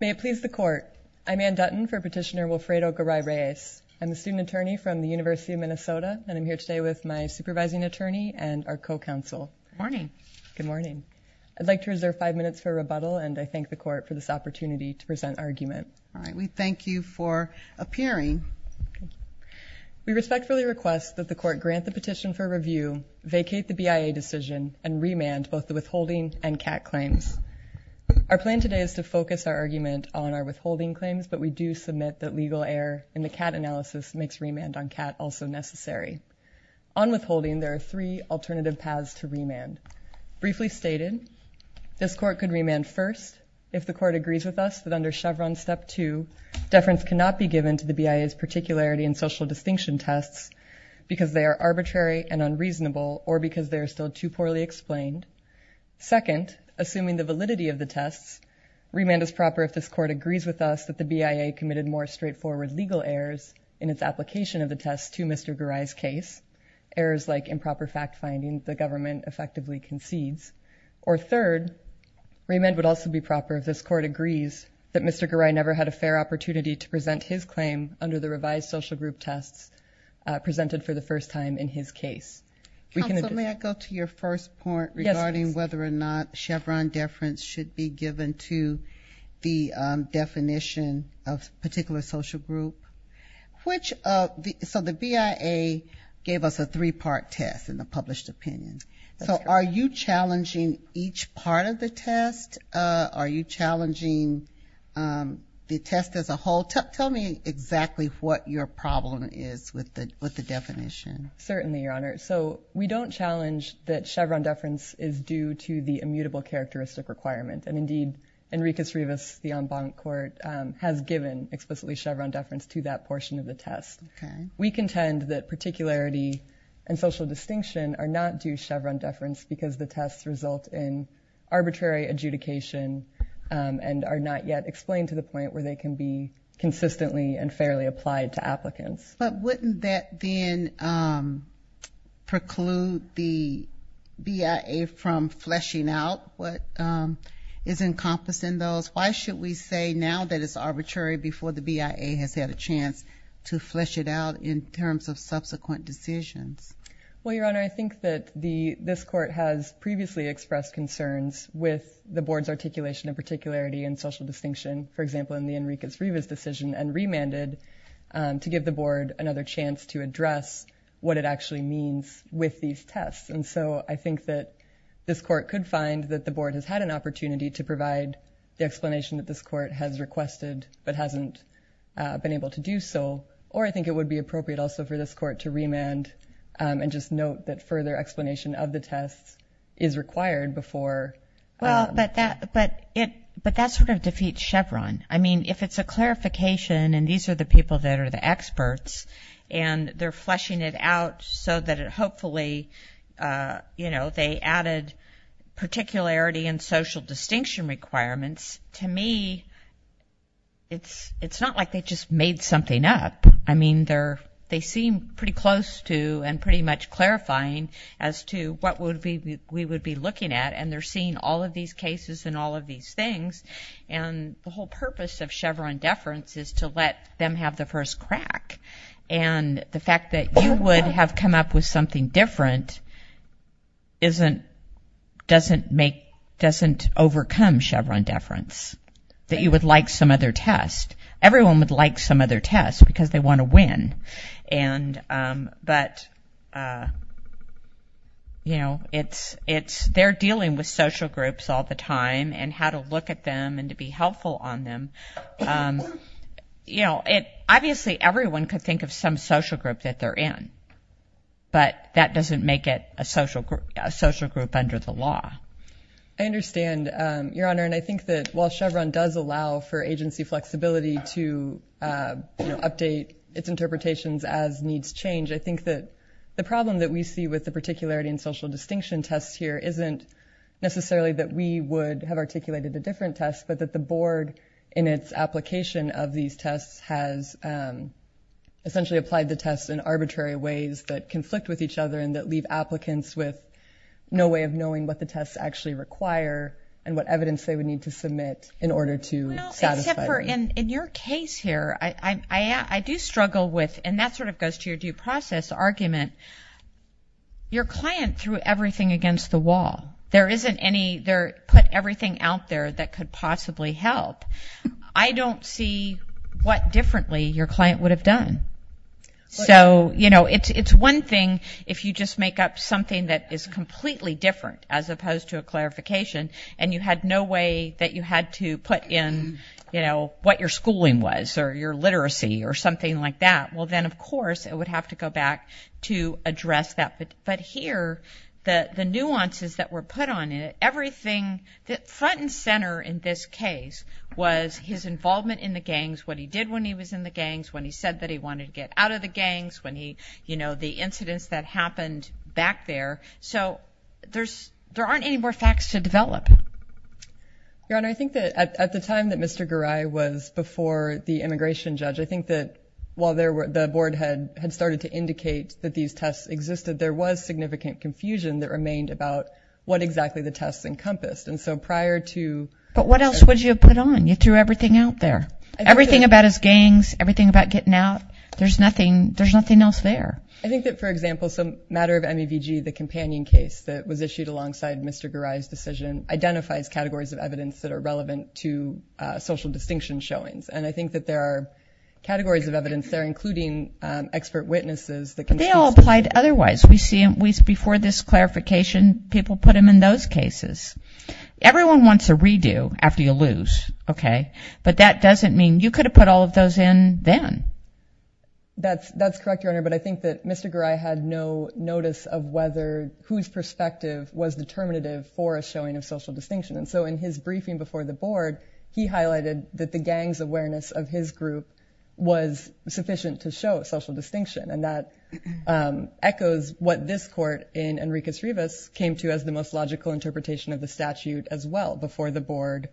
May it please the court. I'm Ann Dutton for petitioner Wilfredo Garay-Reyes. I'm a student attorney from the University of Minnesota And I'm here today with my supervising attorney and our co-counsel. Good morning. Good morning I'd like to reserve five minutes for rebuttal and I thank the court for this opportunity to present argument. All right We thank you for appearing We respectfully request that the court grant the petition for review vacate the BIA decision and remand both the withholding and CAC claims Our plan today is to focus our argument on our withholding claims But we do submit that legal error in the cat analysis makes remand on cat also necessary on Withholding there are three alternative paths to remand briefly stated This court could remand first if the court agrees with us that under Chevron step two Deference cannot be given to the BIA's particularity and social distinction tests Because they are arbitrary and unreasonable or because they are still too poorly explained Second assuming the validity of the tests Remand is proper if this court agrees with us that the BIA committed more straightforward legal errors in its application of the tests to mr Garay's case errors like improper fact-finding the government effectively concedes or third Remand would also be proper if this court agrees that mr Garay never had a fair opportunity to present his claim under the revised social group tests Presented for the first time in his case Go to your first point regarding whether or not Chevron deference should be given to the definition of particular social group Which of the so the BIA? Gave us a three-part test in the published opinion. So are you challenging each part of the test? Are you challenging? The test as a whole tell me exactly what your problem is with the with the definition Certainly your honor So we don't challenge that Chevron deference is due to the immutable characteristic requirement and indeed Enriquez Rivas the en banc court has given explicitly Chevron deference to that portion of the test We contend that particularity and social distinction are not due Chevron deference because the tests result in arbitrary adjudication And are not yet explained to the point where they can be consistently and fairly applied to applicants But wouldn't that then? Preclude the BIA from fleshing out what is encompassing those Why should we say now that it's arbitrary before the BIA has had a chance to flesh it out in terms of subsequent decisions? Well, your honor I think that the this court has previously expressed concerns with the board's articulation of particularity and social distinction For example in the Enriquez Rivas decision and remanded To give the board another chance to address what it actually means with these tests And so I think that this court could find that the board has had an opportunity to provide the explanation that this court has requested but hasn't Been able to do so or I think it would be appropriate also for this court to remand And just note that further explanation of the tests is required before Well, but that but it but that sort of defeats Chevron I mean if it's a clarification and these are the people that are the experts and they're fleshing it out so that it hopefully You know, they added particularity and social distinction requirements to me It's it's not like they just made something up I mean they're they seem pretty close to and pretty much clarifying as to what would be we would be looking at and they're seeing all of these cases and all of these things and the whole purpose of Chevron deference is to let them have the first crack and The fact that you would have come up with something different isn't Doesn't make doesn't overcome Chevron deference that you would like some other test everyone would like some other test because they want to win and but You Know it's it's they're dealing with social groups all the time and how to look at them and to be helpful on them You know it obviously everyone could think of some social group that they're in But that doesn't make it a social group a social group under the law. I understand your honor and I think that while Chevron does allow for agency flexibility to Update its interpretations as needs change I think that the problem that we see with the particularity and social distinction tests here isn't Necessarily that we would have articulated the different tests, but that the board in its application of these tests has Essentially applied the tests in arbitrary ways that conflict with each other and that leave applicants with No way of knowing what the tests actually require and what evidence they would need to submit in order to In your case here, I I do struggle with and that sort of goes to your due process argument Your client threw everything against the wall there isn't any there put everything out there that could possibly help I don't see what differently your client would have done so you know it's it's one thing if you just make up something that is completely different as opposed to a You know what your schooling was or your literacy or something like that Well, then, of course, it would have to go back to address that but but here the the nuances that were put on it Everything that front and center in this case Was his involvement in the gangs what he did when he was in the gangs when he said that he wanted to get out of The gangs when he you know, the incidents that happened back there. So there's there aren't any more facts to develop Your honor I think that at the time that mr. Garai was before the immigration judge I think that while there were the board had had started to indicate that these tests existed There was significant confusion that remained about what exactly the tests encompassed and so prior to but what else would you put on? You threw everything out there everything about his gangs everything about getting out. There's nothing. There's nothing else there I think that for example some matter of MEVG the companion case that was issued alongside. Mr Garai's decision identifies categories of evidence that are relevant to Social distinction showings and I think that there are categories of evidence there including Expert witnesses that can they all applied. Otherwise we see him weeks before this clarification people put him in those cases Everyone wants a redo after you lose. Okay, but that doesn't mean you could have put all of those in then That's that's correct your honor But I think that mr. Garai had no notice of whether whose perspective was Determinative for a showing of social distinction and so in his briefing before the board He highlighted that the gangs awareness of his group was sufficient to show a social distinction and that Echoes what this court in Enrique's Rivas came to as the most logical interpretation of the statute as well before the board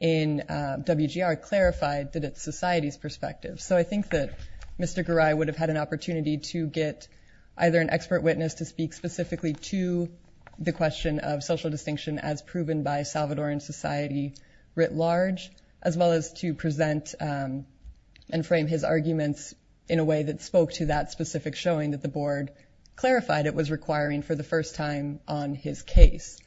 in WGR clarified that it's society's perspective. So I think that mr Garai would have had an opportunity to get either an expert witness to speak specifically to The question of social distinction as proven by Salvadoran society writ large as well as to present And frame his arguments in a way that spoke to that specific showing that the board Clarified it was requiring for the first time on his case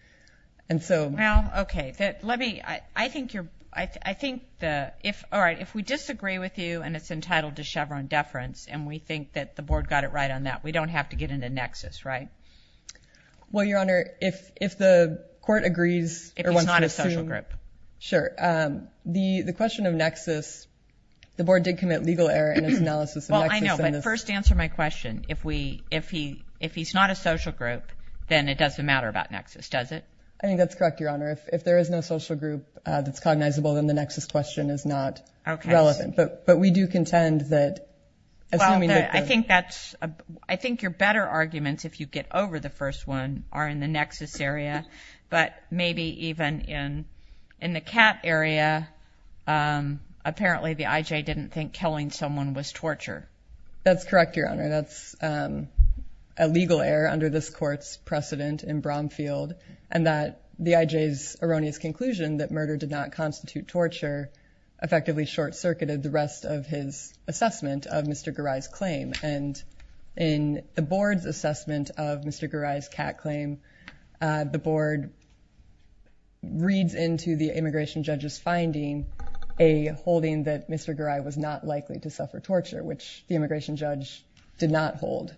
And so now okay that let me I think you're I think the if all right if we disagree with you And it's entitled to Chevron deference and we think that the board got it right on that We don't have to get into nexus, right? Well, your honor if if the court agrees, it was not a social group. Sure the the question of nexus The board did commit legal error and analysis Well, I know but first answer my question if we if he if he's not a social group Then it doesn't matter about nexus. Does it I think that's correct your honor if there is no social group That's cognizable. Then the nexus question is not okay relevant, but but we do contend that I think that's I think you're better arguments if you get over the first one are in the nexus area But maybe even in in the cat area Apparently the IJ didn't think killing someone was torture. That's correct. Your honor. That's a Did not constitute torture Effectively short-circuited the rest of his assessment of mr. Garai's claim and in the board's assessment of mr Garai's cat claim the board Reads into the immigration judge's finding a Holding that mr. Garai was not likely to suffer torture Which the immigration judge did not hold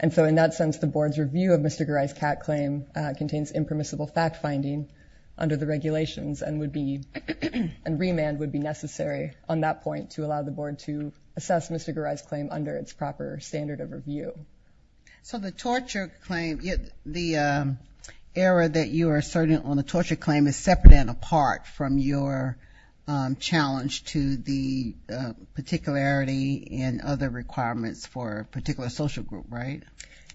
and so in that sense the board's review of mr. Garai's cat claim Contains impermissible fact-finding under the regulations and would be and Remand would be necessary on that point to allow the board to assess mr. Garai's claim under its proper standard of review so the torture claim yet the Error that you are certain on the torture claim is separate and apart from your challenge to the Particularity and other requirements for particular social group, right?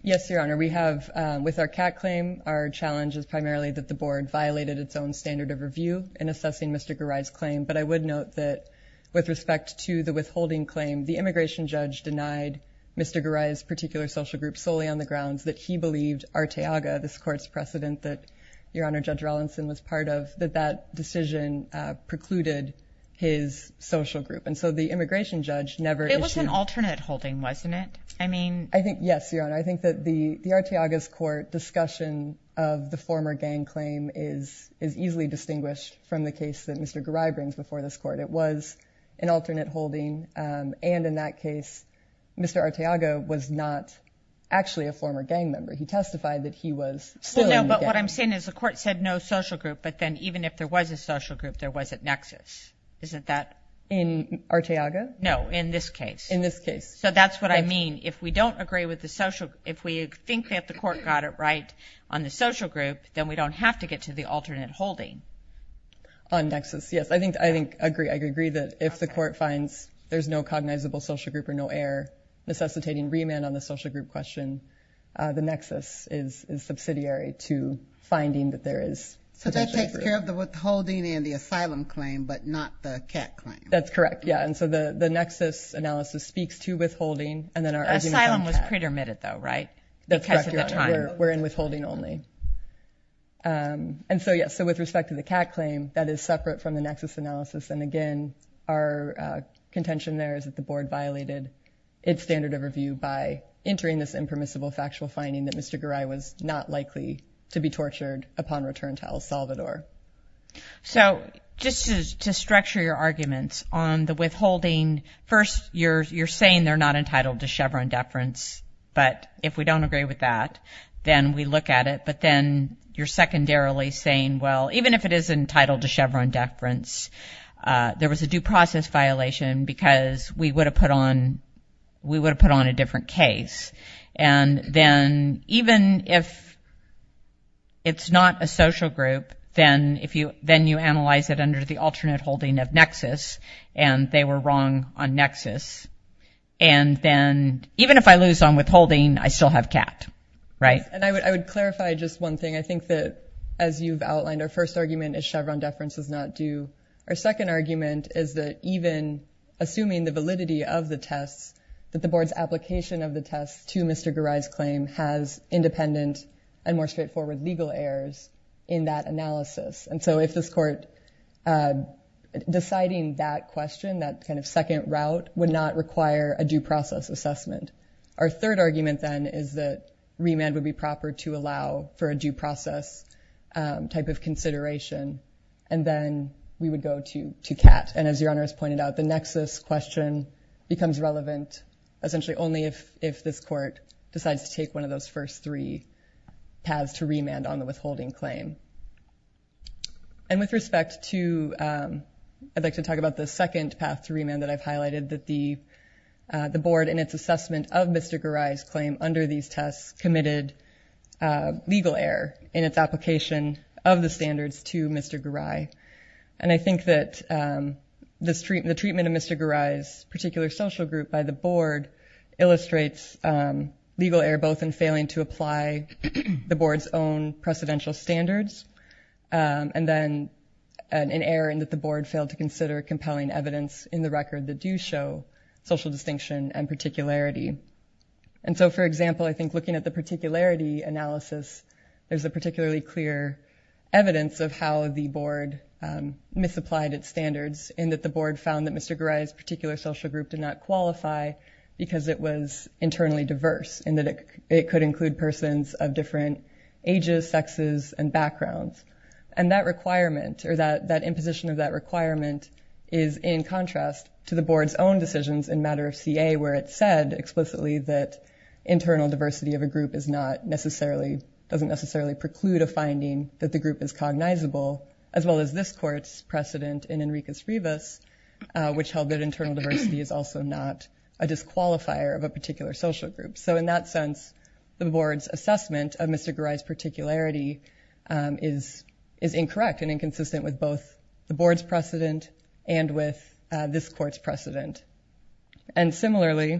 Yes, your honor We have with our cat claim. Our challenge is primarily that the board violated its own standard of review in assessing. Mr Garai's claim, but I would note that with respect to the withholding claim the immigration judge denied Mr. Garai's particular social group solely on the grounds that he believed Arteaga this courts precedent that your honor judge Rollinson was part of that that decision precluded his Social group and so the immigration judge never it was an alternate holding wasn't it? I mean, I think yes, your honor I think that the the Arteaga's court discussion of the former gang claim is is easily distinguished from the case that mr Garai brings before this court. It was an alternate holding and in that case Mr. Arteaga was not Actually a former gang member. He testified that he was so no But what I'm saying is the court said no social group But then even if there was a social group there wasn't nexus isn't that in Arteaga? No in this case in this case So that's what I mean If we don't agree with the social if we think that the court got it, right on the social group Then we don't have to get to the alternate holding On nexus. Yes, I think I think agree. I agree that if the court finds there's no cognizable social group or no air necessitating remand on the social group question The nexus is subsidiary to finding that there is so that takes care of the withholding and the asylum claim But not the cat that's correct. Yeah, and so the the nexus analysis speaks to withholding and then our asylum was pretermitted though, right? We're in withholding only and so yes, so with respect to the cat claim that is separate from the nexus analysis and again our Contention there is that the board violated its standard of review by entering this impermissible factual finding that mr Garai was not likely to be tortured upon return to El Salvador So just to structure your arguments on the withholding first you're you're saying they're not entitled to Chevron deference But if we don't agree with that, then we look at it, but then you're secondarily saying well, even if it is entitled to Chevron deference there was a due process violation because we would have put on we would have put on a different case and then even if It's not a social group then if you then you analyze it under the alternate holding of nexus and they were wrong on nexus and Then even if I lose on withholding I still have cat right and I would clarify just one thing I think that as you've outlined our first argument is Chevron deference does not do our second argument is that even Assuming the validity of the tests that the board's application of the test to mr. Garai's claim has Independent and more straightforward legal errors in that analysis. And so if this court Deciding that question that kind of second route would not require a due process assessment Our third argument then is that remand would be proper to allow for a due process Type of consideration and then we would go to to cat and as your honor has pointed out the nexus question Becomes relevant essentially only if if this court decides to take one of those first three paths to remand on the withholding claim and with respect to I'd like to talk about the second path to remand that I've highlighted that the The board and its assessment of mr. Garai's claim under these tests committed Legal error in its application of the standards to mr. Garai, and I think that This treatment the treatment of mr. Garai's particular social group by the board illustrates legal error both in failing to apply the board's own precedential standards and then An error and that the board failed to consider compelling evidence in the record that do show social distinction and particularity And so for example, I think looking at the particularity analysis, there's a particularly clear evidence of how the board Misapplied its standards in that the board found that mr. Garai's particular social group did not qualify because it was internally diverse and that it could include persons of different ages sexes and backgrounds and That requirement or that that imposition of that requirement is in contrast to the board's own decisions in matter of CA where it said explicitly that internal diversity of a group is not necessarily doesn't necessarily preclude a finding that the group is Uncognizable as well as this court's precedent in Enriquez Rivas Which held that internal diversity is also not a disqualifier of a particular social group So in that sense the board's assessment of mr. Garai's particularity is is incorrect and inconsistent with both the board's precedent and with this court's precedent and similarly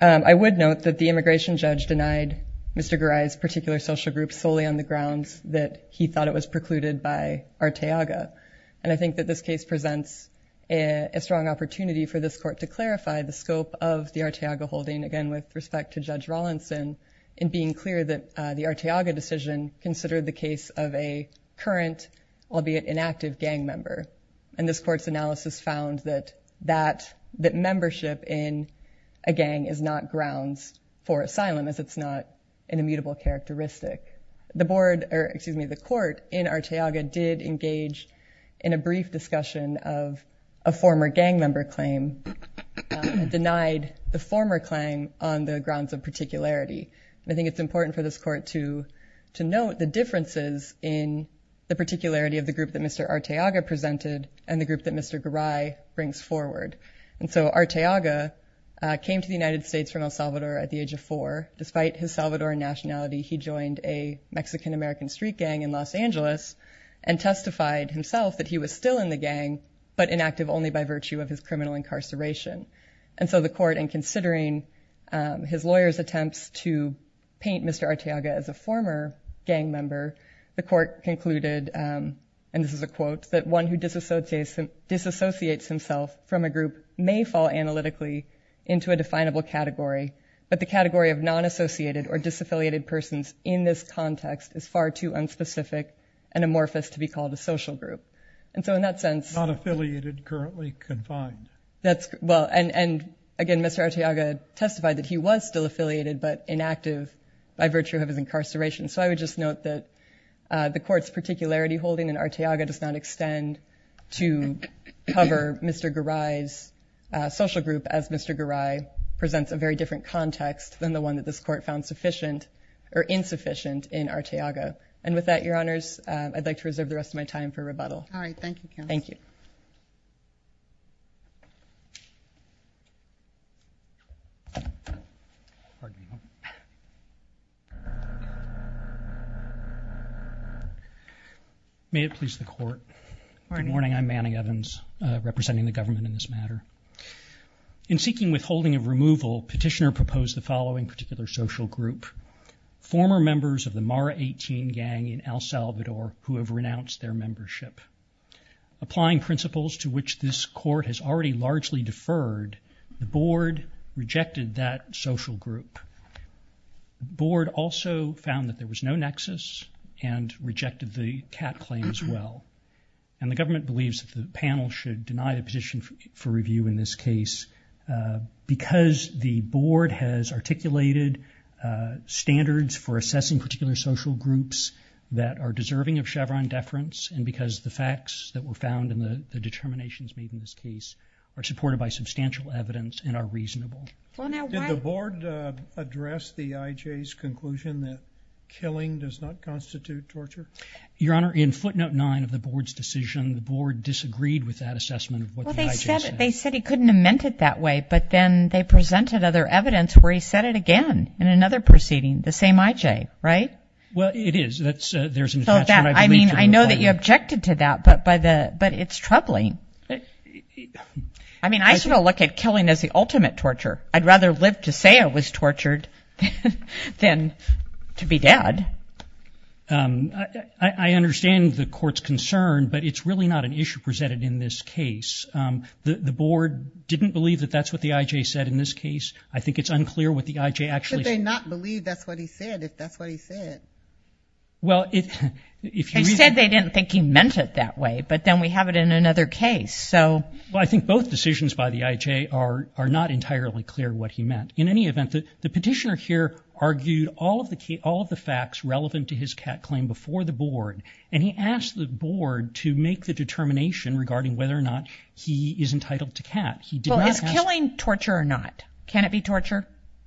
I would note that the immigration judge denied mr Garai's particular social group solely on the grounds that he thought it was precluded by Arteaga and I think that this case presents a Strong opportunity for this court to clarify the scope of the Arteaga holding again with respect to judge Rawlinson in being clear that the Arteaga decision considered the case of a current I'll be an inactive gang member and this court's analysis found that that that membership in a Unrecognizable characteristic the board or excuse me the court in Arteaga did engage in a brief discussion of a former gang member claim Denied the former claim on the grounds of particularity. I think it's important for this court to to note the differences in The particularity of the group that mr. Arteaga presented and the group that mr. Garai brings forward and so Arteaga Came to the United States from El Salvador at the age of four despite his Salvadoran nationality He joined a Mexican American street gang in Los Angeles and testified himself that he was still in the gang But inactive only by virtue of his criminal incarceration and so the court and considering His lawyers attempts to paint. Mr. Arteaga as a former gang member the court concluded And this is a quote that one who disassociates him disassociates himself from a group may fall analytically into a definable category but the category of non-associated or disaffiliated persons in this context is far too unspecific and Amorphous to be called a social group. And so in that sense not affiliated currently confined. That's well and and again Mr. Arteaga testified that he was still affiliated but inactive by virtue of his incarceration. So I would just note that The court's particularity holding and Arteaga does not extend to cover. Mr. Garai's Social-group as Mr. Garai presents a very different context than the one that this court found sufficient or insufficient in Arteaga And with that your honors, I'd like to reserve the rest of my time for rebuttal. All right. Thank you. Thank you May it please the court morning morning. I'm Manning Evans representing the government in this matter In seeking withholding of removal petitioner proposed the following particular social group former members of the Mara 18 gang in El Salvador who have renounced their membership Applying principles to which this court has already largely deferred the board rejected that social group board also found that there was no nexus and Rejected the cat claim as well and the government believes that the panel should deny the position for review in this case Because the board has articulated Standards for assessing particular social groups that are deserving of Chevron deference and because the facts that were found in the Determinations made in this case are supported by substantial evidence and are reasonable Address the IJ's conclusion that killing does not constitute torture your honor in footnote 9 of the board's decision Disagreed with that assessment They said he couldn't have meant it that way But then they presented other evidence where he said it again in another proceeding the same IJ, right? Well, it is that's there's no doubt. I mean, I know that you objected to that but by the but it's troubling. I Mean, I should look at killing as the ultimate torture. I'd rather live to say it was tortured than to be dead I It's really not an issue presented in this case The the board didn't believe that that's what the IJ said in this case I think it's unclear what the IJ actually they not believe that's what he said if that's what he said Well, if you said they didn't think he meant it that way, but then we have it in another case So well, I think both decisions by the IJ are are not entirely clear what he meant in any event that the petitioner here Argued all of the key all of the facts relevant to his cat claim before the board and he asked the board to make the Determination regarding whether or not he is entitled to cat. He does killing torture or not. Can it be torture?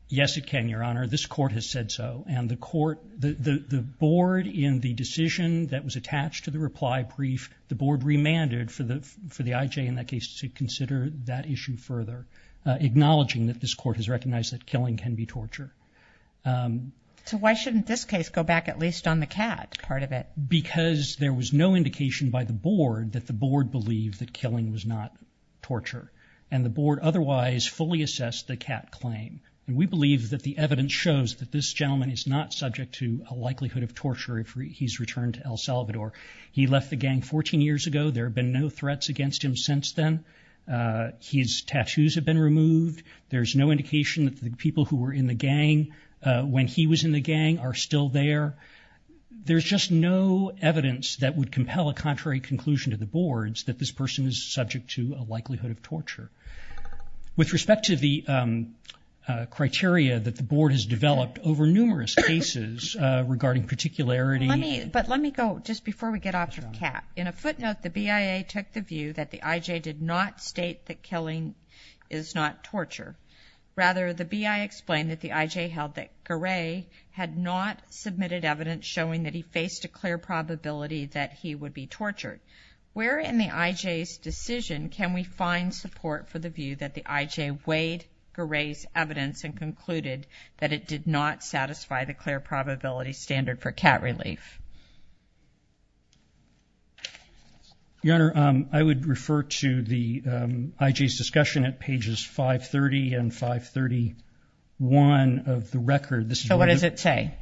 Yes, it can your honor This court has said so and the court the the board in the decision that was attached to the reply brief The board remanded for the for the IJ in that case to consider that issue further Acknowledging that this court has recognized that killing can be torture So why shouldn't this case go back at least on the cat part of it? Because there was no indication by the board that the board believed that killing was not Torture and the board otherwise fully assessed the cat claim And we believe that the evidence shows that this gentleman is not subject to a likelihood of torture if he's returned to El Salvador He left the gang 14 years ago. There have been no threats against him since then His tattoos have been removed. There's no indication that the people who were in the gang When he was in the gang are still there There's just no evidence that would compel a contrary conclusion to the board's that this person is subject to a likelihood of torture with respect to the Criteria that the board has developed over numerous cases Regarding particularity, but let me go just before we get off your cat in a footnote The BIA took the view that the IJ did not state that killing is not torture Rather the BIA explained that the IJ held that Garay had not submitted evidence showing that he faced a clear Probability that he would be tortured where in the IJ's decision Can we find support for the view that the IJ weighed Garay's evidence and concluded that it did not satisfy the clear probability standard for cat relief Your honor, I would refer to the IJ's discussion at pages 530 and 531 Of the record. So what does it say?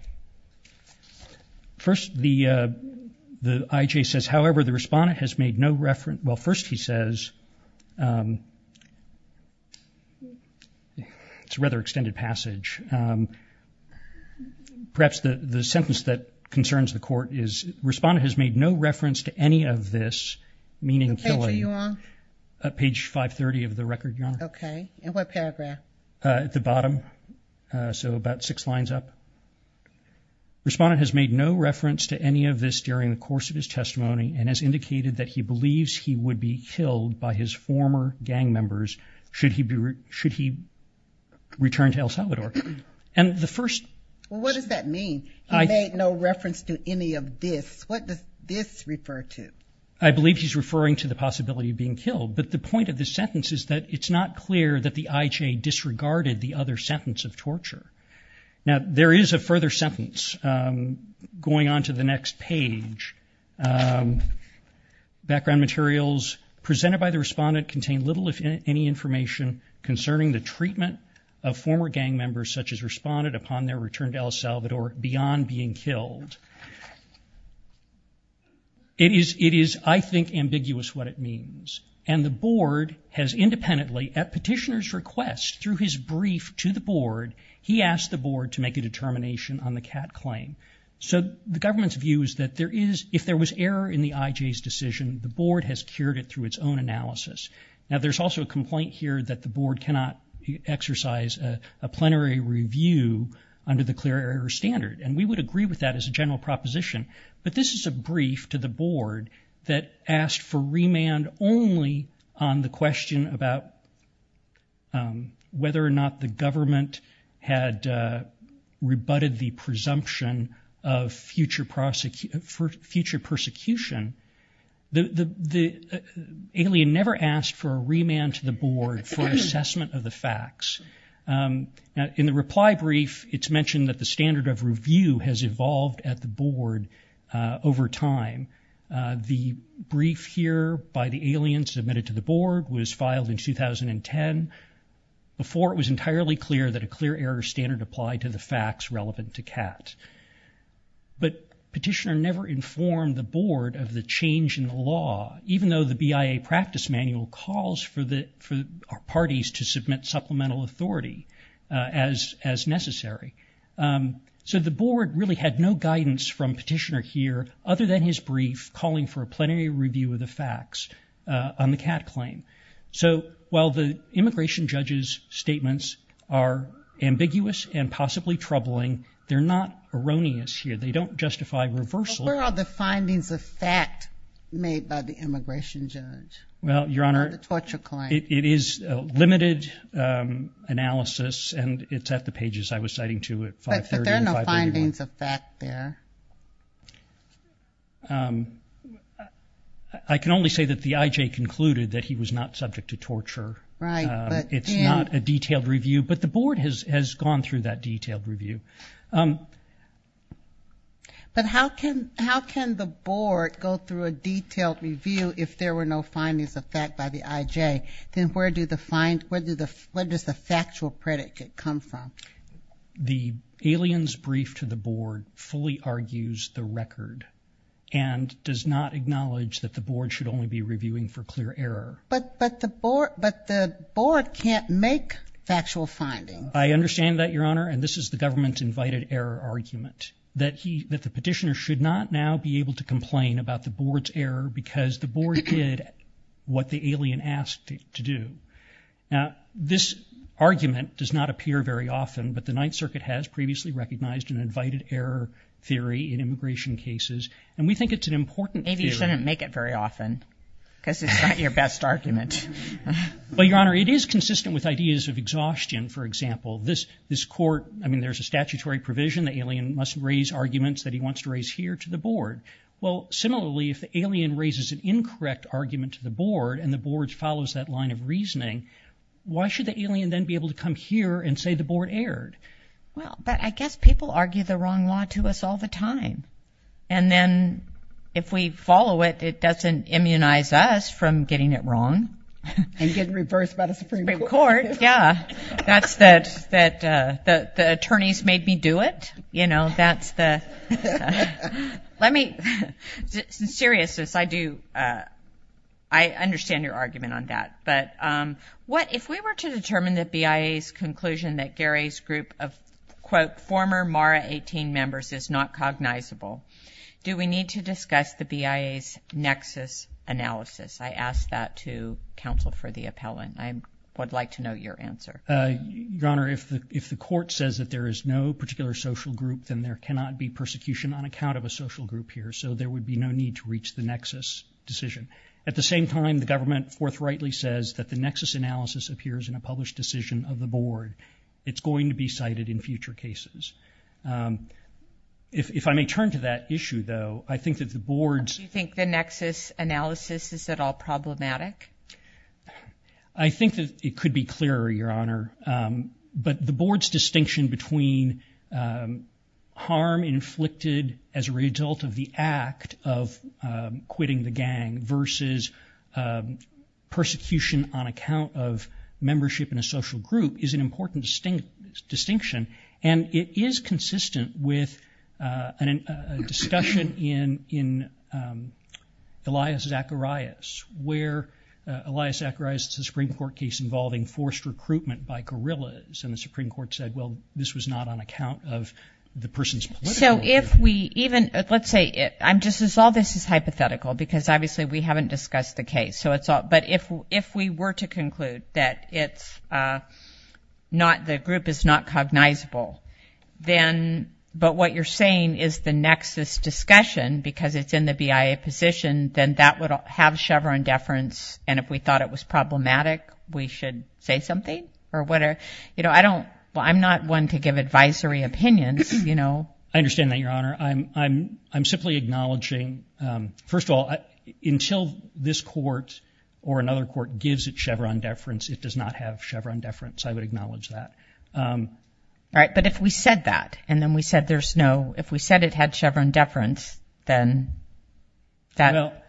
First the the IJ says however, the respondent has made no reference. Well first he says It's rather extended passage Respondent has made no reference to any of this meaning killing Page 530 of the record. Okay, and what paragraph at the bottom? So about six lines up Respondent has made no reference to any of this during the course of his testimony and has indicated that he believes he would be killed by his former gang members should he be should he Returned to El Salvador and the first what does that mean? I made no reference to any of this What does this refer to I believe he's referring to the possibility of being killed But the point of this sentence is that it's not clear that the IJ disregarded the other sentence of torture Now there is a further sentence Going on to the next page Background materials presented by the respondent contain little if any information Concerning the treatment of former gang members such as responded upon their return to El Salvador beyond being killed It is it is I think ambiguous what it means and the board has Independently at petitioners request through his brief to the board. He asked the board to make a determination on the cat claim So the government's view is that there is if there was error in the IJ's decision The board has cured it through its own analysis. Now. There's also a complaint here that the board cannot Exercise a plenary review under the clear air standard and we would agree with that as a general proposition but this is a brief to the board that asked for remand only on the question about Whether or not the government had Rebutted the presumption of future prosecution for future persecution the Alien never asked for a remand to the board for assessment of the facts Now in the reply brief, it's mentioned that the standard of review has evolved at the board over time The brief here by the alien submitted to the board was filed in 2010 Before it was entirely clear that a clear error standard applied to the facts relevant to cat But petitioner never informed the board of the change in the law Even though the BIA practice manual calls for the for parties to submit supplemental authority as as necessary So the board really had no guidance from petitioner here other than his brief calling for a plenary review of the facts On the cat claim. So while the immigration judges statements are Ambiguous and possibly troubling. They're not erroneous here. They don't justify reversal We're all the findings of fact made by the immigration judge. Well, your honor torture client. It is a limited Analysis and it's at the pages. I was citing to it I There I Can only say that the IJ concluded that he was not subject to torture, right? It's not a detailed review, but the board has has gone through that detailed review But how can how can the board go through a detailed review if there were no findings of fact by the IJ Then where do the find where do the what does the factual predicate come from? The aliens brief to the board fully argues the record and Does not acknowledge that the board should only be reviewing for clear error But but the board but the board can't make factual finding I understand that your honor And this is the government's invited error argument that he that the petitioner should not now be able to complain about the board's error Because the board did what the alien asked it to do This Argument does not appear very often But the Ninth Circuit has previously recognized an invited error theory in immigration cases and we think it's an important Maybe you shouldn't make it very often because it's not your best argument Well, your honor it is consistent with ideas of exhaustion. For example this this court I mean, there's a statutory provision the alien must raise arguments that he wants to raise here to the board Well, similarly if the alien raises an incorrect argument to the board and the boards follows that line of reasoning Why should the alien then be able to come here and say the board erred? well, but I guess people argue the wrong law to us all the time and then if we follow it It doesn't immunize us from getting it wrong And get reversed by the Supreme Court. Yeah, that's that that the attorneys made me do it. You know, that's the let me seriousness I do I If we were to determine the BIA's conclusion that Gary's group of quote former Mara 18 members is not cognizable Do we need to discuss the BIA's nexus analysis? I asked that to counsel for the appellant I would like to know your answer Your honor if the if the court says that there is no particular social group Then there cannot be persecution on account of a social group here So there would be no need to reach the nexus Decision at the same time the government forthrightly says that the nexus analysis appears in a published decision of the board It's going to be cited in future cases If I may turn to that issue though, I think that the board's you think the nexus analysis is at all problematic I Think that it could be clearer your honor but the board's distinction between Harm inflicted as a result of the act of quitting the gang versus Persecution on account of membership in a social group is an important distinct distinction and it is consistent with an discussion in in Elias Zacharias where Elias Zacharias the Supreme Court case involving forced recruitment by guerrillas and the Supreme Court said well This was not on account of the person's so if we even let's say it This is all this is hypothetical because obviously we haven't discussed the case so it's all but if if we were to conclude that it's Not the group is not cognizable Then but what you're saying is the nexus discussion because it's in the BIA position Then that would have Chevron deference and if we thought it was problematic We should say something or whatever, you know, I don't well, I'm not one to give advisory opinions You know, I understand that your honor. I'm I'm I'm simply acknowledging First of all until this court or another court gives it Chevron deference. It does not have Chevron deference. I would acknowledge that All right, but if we said that and then we said there's no if we said it had Chevron deference then that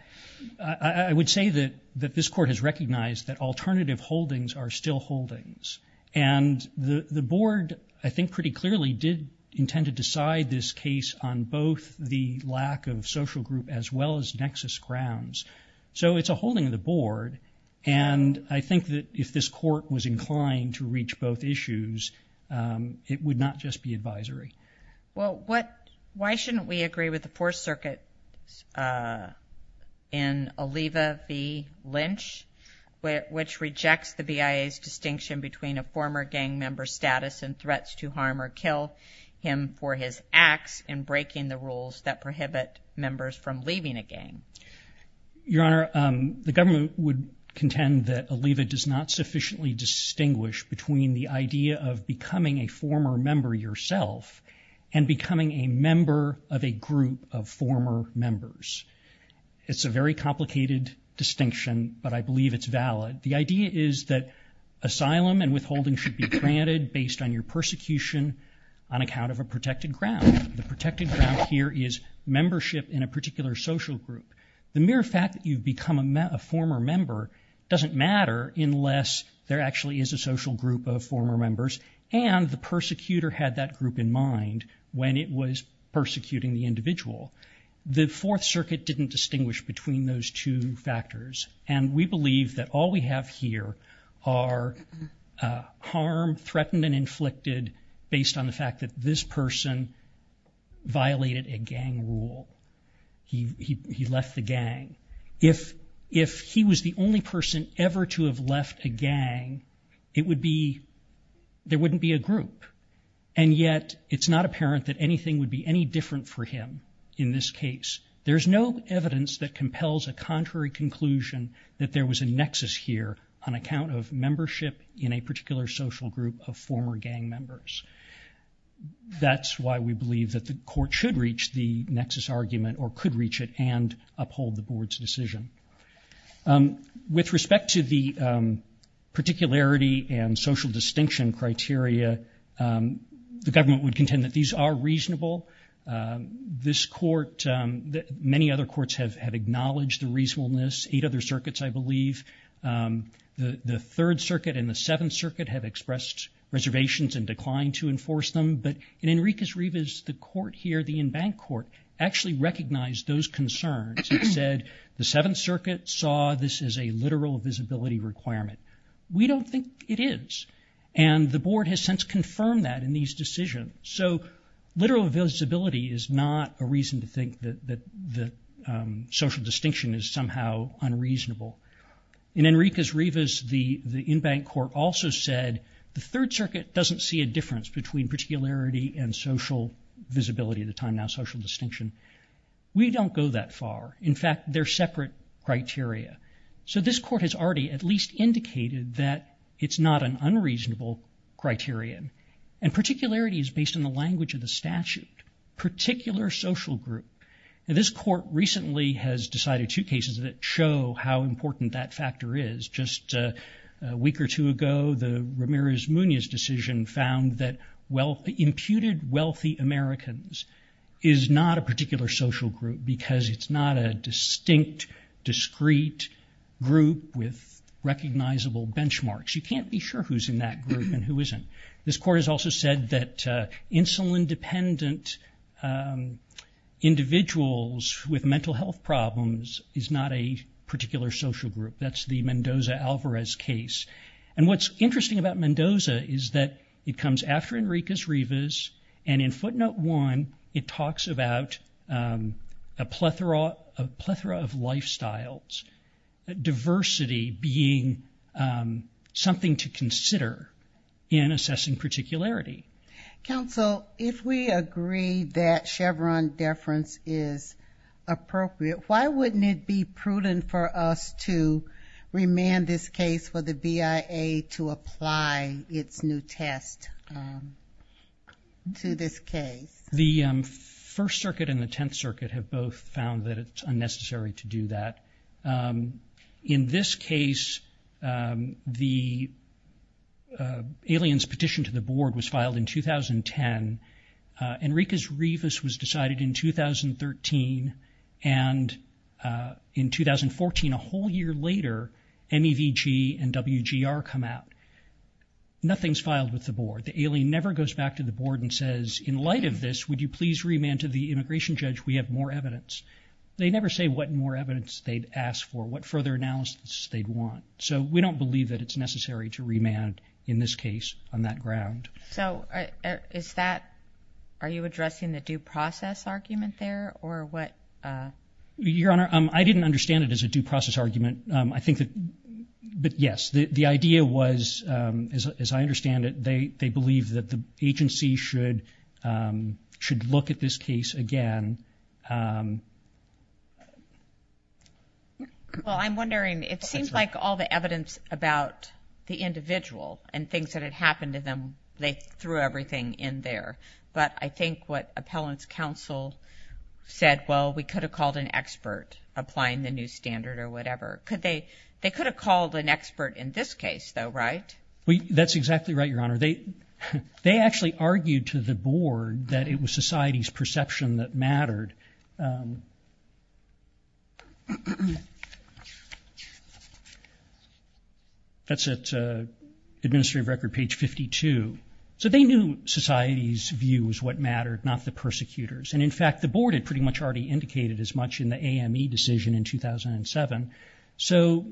I would say that that this court has recognized that alternative holdings are still holdings and The board I think pretty clearly did intend to decide this case on both the lack of social group as well as Nexus grounds, so it's a holding of the board and I think that if this court was inclined to reach both issues It would not just be advisory. Well, what why shouldn't we agree with the fourth circuit? in Oliva V Lynch Which rejects the BIA's distinction between a former gang member status and threats to harm or kill Him for his acts and breaking the rules that prohibit members from leaving a gang Your honor the government would contend that Oliva does not sufficiently distinguish between the idea of becoming a former member yourself and Becoming a member of a group of former members It's a very complicated distinction, but I believe it's valid the idea is that Asylum and withholding should be granted based on your persecution on account of a protected ground the protected ground here is Membership in a particular social group the mere fact that you've become a former member Doesn't matter unless there actually is a social group of former members and the persecutor had that group in mind when it was Didn't distinguish between those two factors and we believe that all we have here are Harm threatened and inflicted based on the fact that this person violated a gang rule He he left the gang if if he was the only person ever to have left a gang it would be There wouldn't be a group and yet it's not apparent that anything would be any different for him in this case There's no evidence that compels a contrary conclusion that there was a nexus here on account of membership in a particular social group of former gang members That's why we believe that the court should reach the nexus argument or could reach it and uphold the board's decision with respect to the Particularity and social distinction criteria The government would contend that these are reasonable This court that many other courts have had acknowledged the reasonableness eight other circuits, I believe The the Third Circuit and the Seventh Circuit have expressed Reservations and declined to enforce them but in Enriquez-Rivas the court here the in-bank court actually recognized those concerns It said the Seventh Circuit saw this is a literal visibility requirement We don't think it is and the board has since confirmed that in these decisions so literal visibility is not a reason to think that the Social distinction is somehow unreasonable In Enriquez-Rivas the the in-bank court also said the Third Circuit doesn't see a difference between particularity and social Visibility at the time now social distinction. We don't go that far. In fact, they're separate criteria So this court has already at least indicated that it's not an unreasonable Criterion and particularity is based on the language of the statute Particular social group and this court recently has decided two cases that show how important that factor is just a week or two ago the Ramirez-Muñoz decision found that well imputed wealthy Americans is Not a particular social group because it's not a distinct discreet group with And who isn't this court has also said that insulin dependent Individuals with mental health problems is not a particular social group That's the Mendoza-Alvarez case and what's interesting about Mendoza is that it comes after Enriquez-Rivas And in footnote one it talks about a plethora of plethora of lifestyles diversity being Something to consider in assessing particularity counsel if we agree that Chevron deference is Appropriate. Why wouldn't it be prudent for us to? Remand this case for the BIA to apply its new test To this case the First Circuit and the Tenth Circuit have both found that it's unnecessary to do that in this case The Aliens petition to the board was filed in 2010 Enriquez-Rivas was decided in 2013 and In 2014 a whole year later MEVG and WGR come out Nothing's filed with the board the alien never goes back to the board and says in light of this Would you please remand to the immigration judge? We have more evidence They never say what more evidence they'd asked for what further analysis they'd want So we don't believe that it's necessary to remand in this case on that ground. So Is that are you addressing the due process argument there or what? Your honor. I didn't understand it as a due process argument. I think that But yes, the idea was as I understand it, they they believe that the agency should Should look at this case again Well I'm wondering it seems like all the evidence about The individual and things that had happened to them. They threw everything in there, but I think what appellants counsel Said well, we could have called an expert applying the new standard or whatever Could they they could have called an expert in this case though, right? We that's exactly right. Your honor. They They actually argued to the board that it was society's perception that mattered That's It administrative record page 52 So they knew society's view is what mattered not the persecutors and in fact the board had pretty much already indicated as much in the AME decision in 2007, so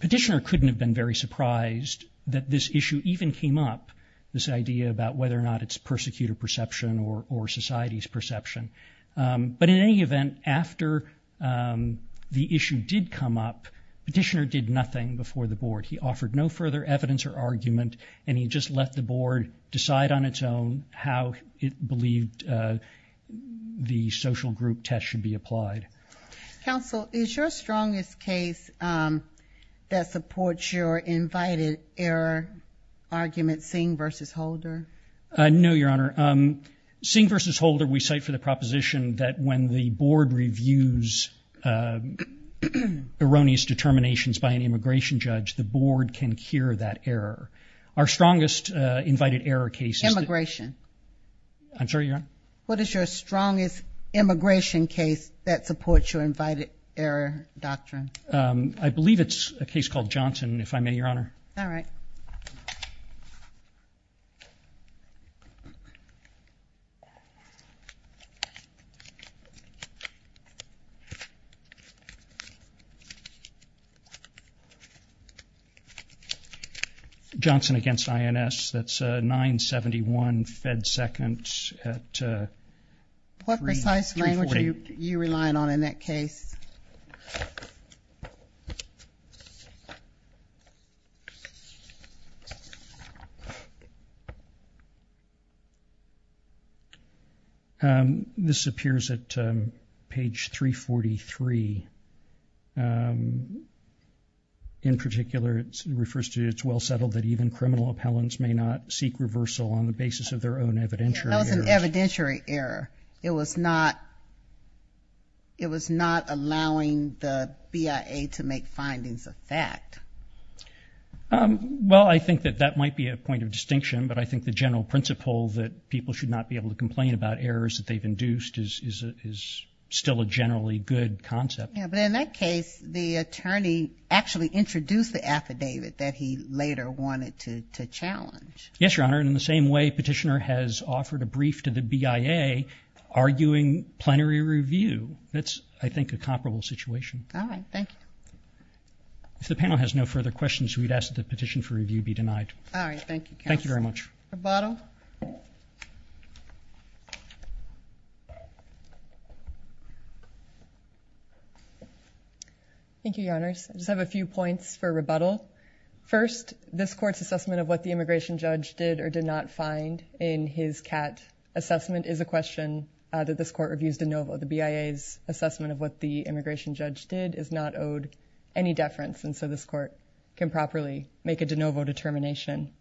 Petitioner couldn't have been very surprised that this issue even came up this idea about whether or not it's persecutor perception or society's perception but in any event after The issue did come up Petitioner did nothing before the board He offered no further evidence or argument and he just let the board decide on its own how it believed The social group test should be applied Counsel is your strongest case argument seeing versus Holder No, your honor Seeing versus Holder we cite for the proposition that when the board reviews Erroneous determinations by an immigration judge the board can cure that error our strongest invited error cases immigration I'm sorry. Yeah, what is your strongest? Immigration case that supports your invited error doctrine. I believe it's a case called Johnson if I may your honor. All right Johnson Johnson against INS that's 971 fed seconds What precise language you you relied on in that case And this appears at page 343 In particular it refers to its well settled that even criminal appellants may not seek reversal on the basis of their own evidentiary Evidentiary error it was not It was not allowing the BIA to make findings of fact Um, well, I think that that might be a point of distinction but I think the general principle that people should not be able to complain about errors that they've induced is Still a generally good concept Yeah, but in that case the attorney actually introduced the affidavit that he later wanted to challenge Yes, your honor in the same way petitioner has offered a brief to the BIA Arguing plenary review. That's I think a comparable situation Thank you, if the panel has no further questions, we'd ask the petition for review be denied. All right. Thank you. Thank you very much Thank you, your honors, I just have a few points for rebuttal First this court's assessment of what the immigration judge did or did not find in his cat Assessment is a question that this court reviews de novo the BIA's Assessment of what the immigration judge did is not owed any deference. And so this court can properly make a de novo determination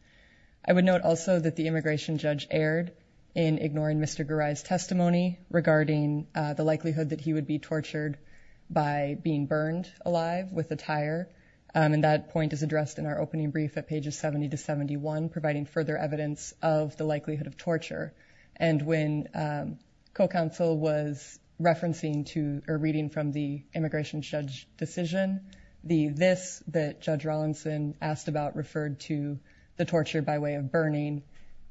I would note also that the immigration judge erred in ignoring. Mr. Garai's testimony Regarding the likelihood that he would be tortured by being burned alive with a tire and that point is addressed in our opening brief at pages 70 to 71 providing further evidence of the likelihood of torture and when co-counsel was Referencing to or reading from the immigration judge decision the this that judge Rollinson asked about referred to the torture by way of burning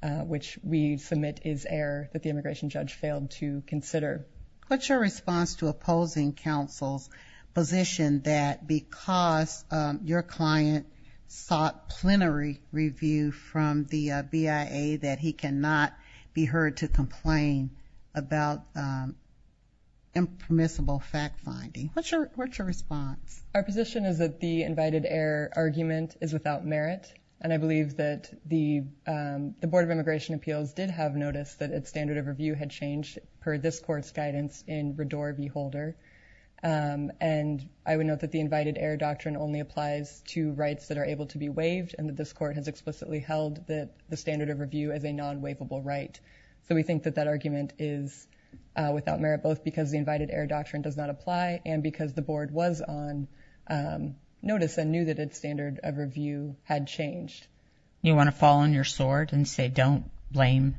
Which we submit is error that the immigration judge failed to consider. What's your response to opposing counsel's? position that because your client Sought plenary review from the BIA that he cannot be heard to complain about Impermissible fact-finding. What's your what's your response? our position is that the invited-error argument is without merit and I believe that the The Board of Immigration Appeals did have noticed that its standard of review had changed per this court's guidance in Redor v. Holder And I would note that the invited-error doctrine only applies to rights that are able to be waived and that this court has explicitly held That the standard of review as a non waivable, right? So we think that that argument is Without merit both because the invited-error doctrine does not apply and because the board was on Notice and knew that its standard of review had changed you want to fall on your sword and say don't blame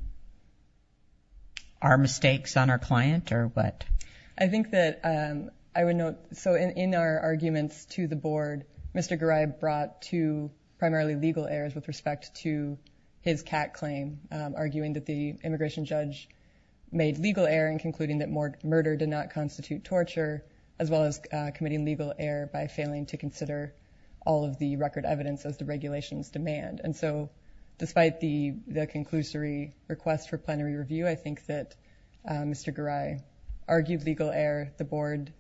Our mistakes on our client or what I think that I would note so in our arguments to the board Mr. Garib brought to primarily legal errors with respect to his cat claim Arguing that the immigration judge Made legal error in concluding that more murder did not constitute torture as well as committing legal error by failing to consider all of the record evidence as the regulations demand and so Despite the the conclusory request for plenary review. I think that Mr. Garib Argued legal error the board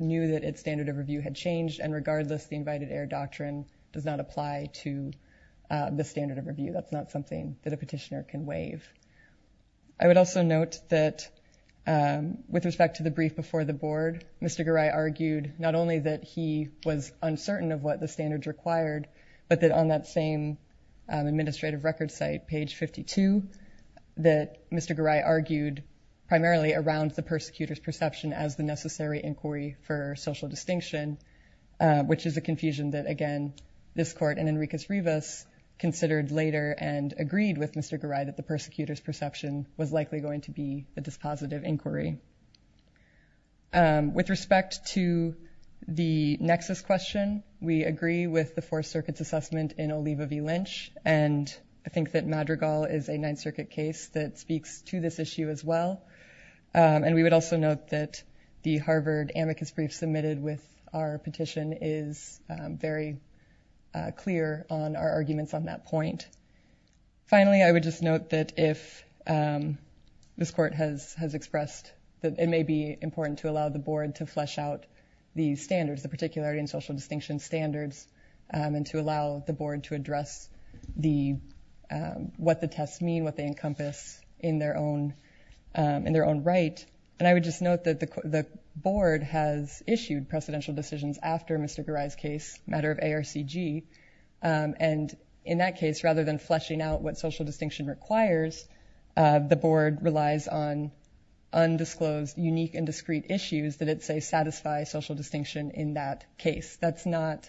knew that its standard of review had changed and regardless the invited-error doctrine does not apply to The standard of review that's not something that a petitioner can waive. I would also note that With respect to the brief before the board. Mr. Garib argued not only that he was uncertain of what the standards required But that on that same Administrative record site page 52 That mr. Garib argued primarily around the persecutors perception as the necessary inquiry for social distinction Which is a confusion that again this court and Enriquez Rivas Considered later and agreed with mr. Garib that the persecutors perception was likely going to be the dispositive inquiry With respect to The nexus question we agree with the four circuits assessment in Oliva V Lynch And I think that Madrigal is a Ninth Circuit case that speaks to this issue as well and we would also note that the Harvard amicus brief submitted with our petition is very Clear on our arguments on that point finally, I would just note that if This court has has expressed that it may be important to allow the board to flesh out these standards the particularity and social distinction standards and to allow the board to address the What the tests mean what they encompass in their own? In their own right and I would just note that the board has issued precedential decisions after mr. Garib's case matter of ARCG And in that case rather than fleshing out what social distinction requires The board relies on Undisclosed unique and discrete issues that it say satisfy social distinction in that case. That's not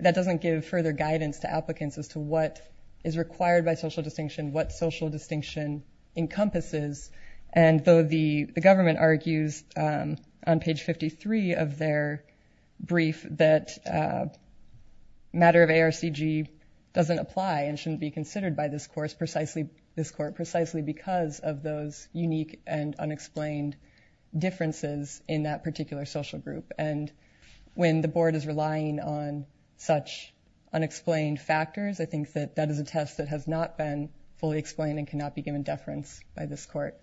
That doesn't give further guidance to applicants as to what is required by social distinction what social distinction encompasses and though the the government argues on page 53 of their brief that Matter of ARCG Doesn't apply and shouldn't be considered by this course precisely this court precisely because of those unique and unexplained differences in that particular social group and When the board is relying on such Unexplained factors. I think that that is a test that has not been fully explained and cannot be given deference by this court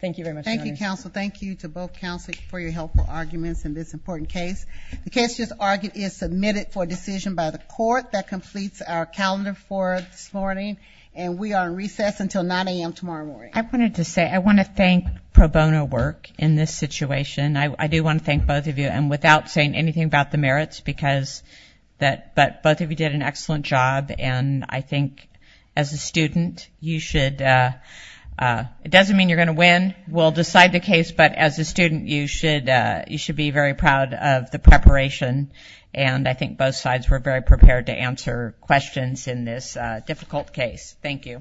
Thank you very much. Thank you counsel Thank you to both counsel for your helpful arguments in this important case The case just argued is submitted for decision by the court that completes our calendar for this morning And we are recessed until 9 a.m. Tomorrow morning. I wanted to say I want to thank pro bono work in this situation I do want to thank both of you and without saying anything about the merits because That but both of you did an excellent job, and I think as a student you should It doesn't mean you're gonna win we'll decide the case but as a student you should you should be very proud of the preparation and I think both sides were very prepared to answer questions in this difficult case. Thank you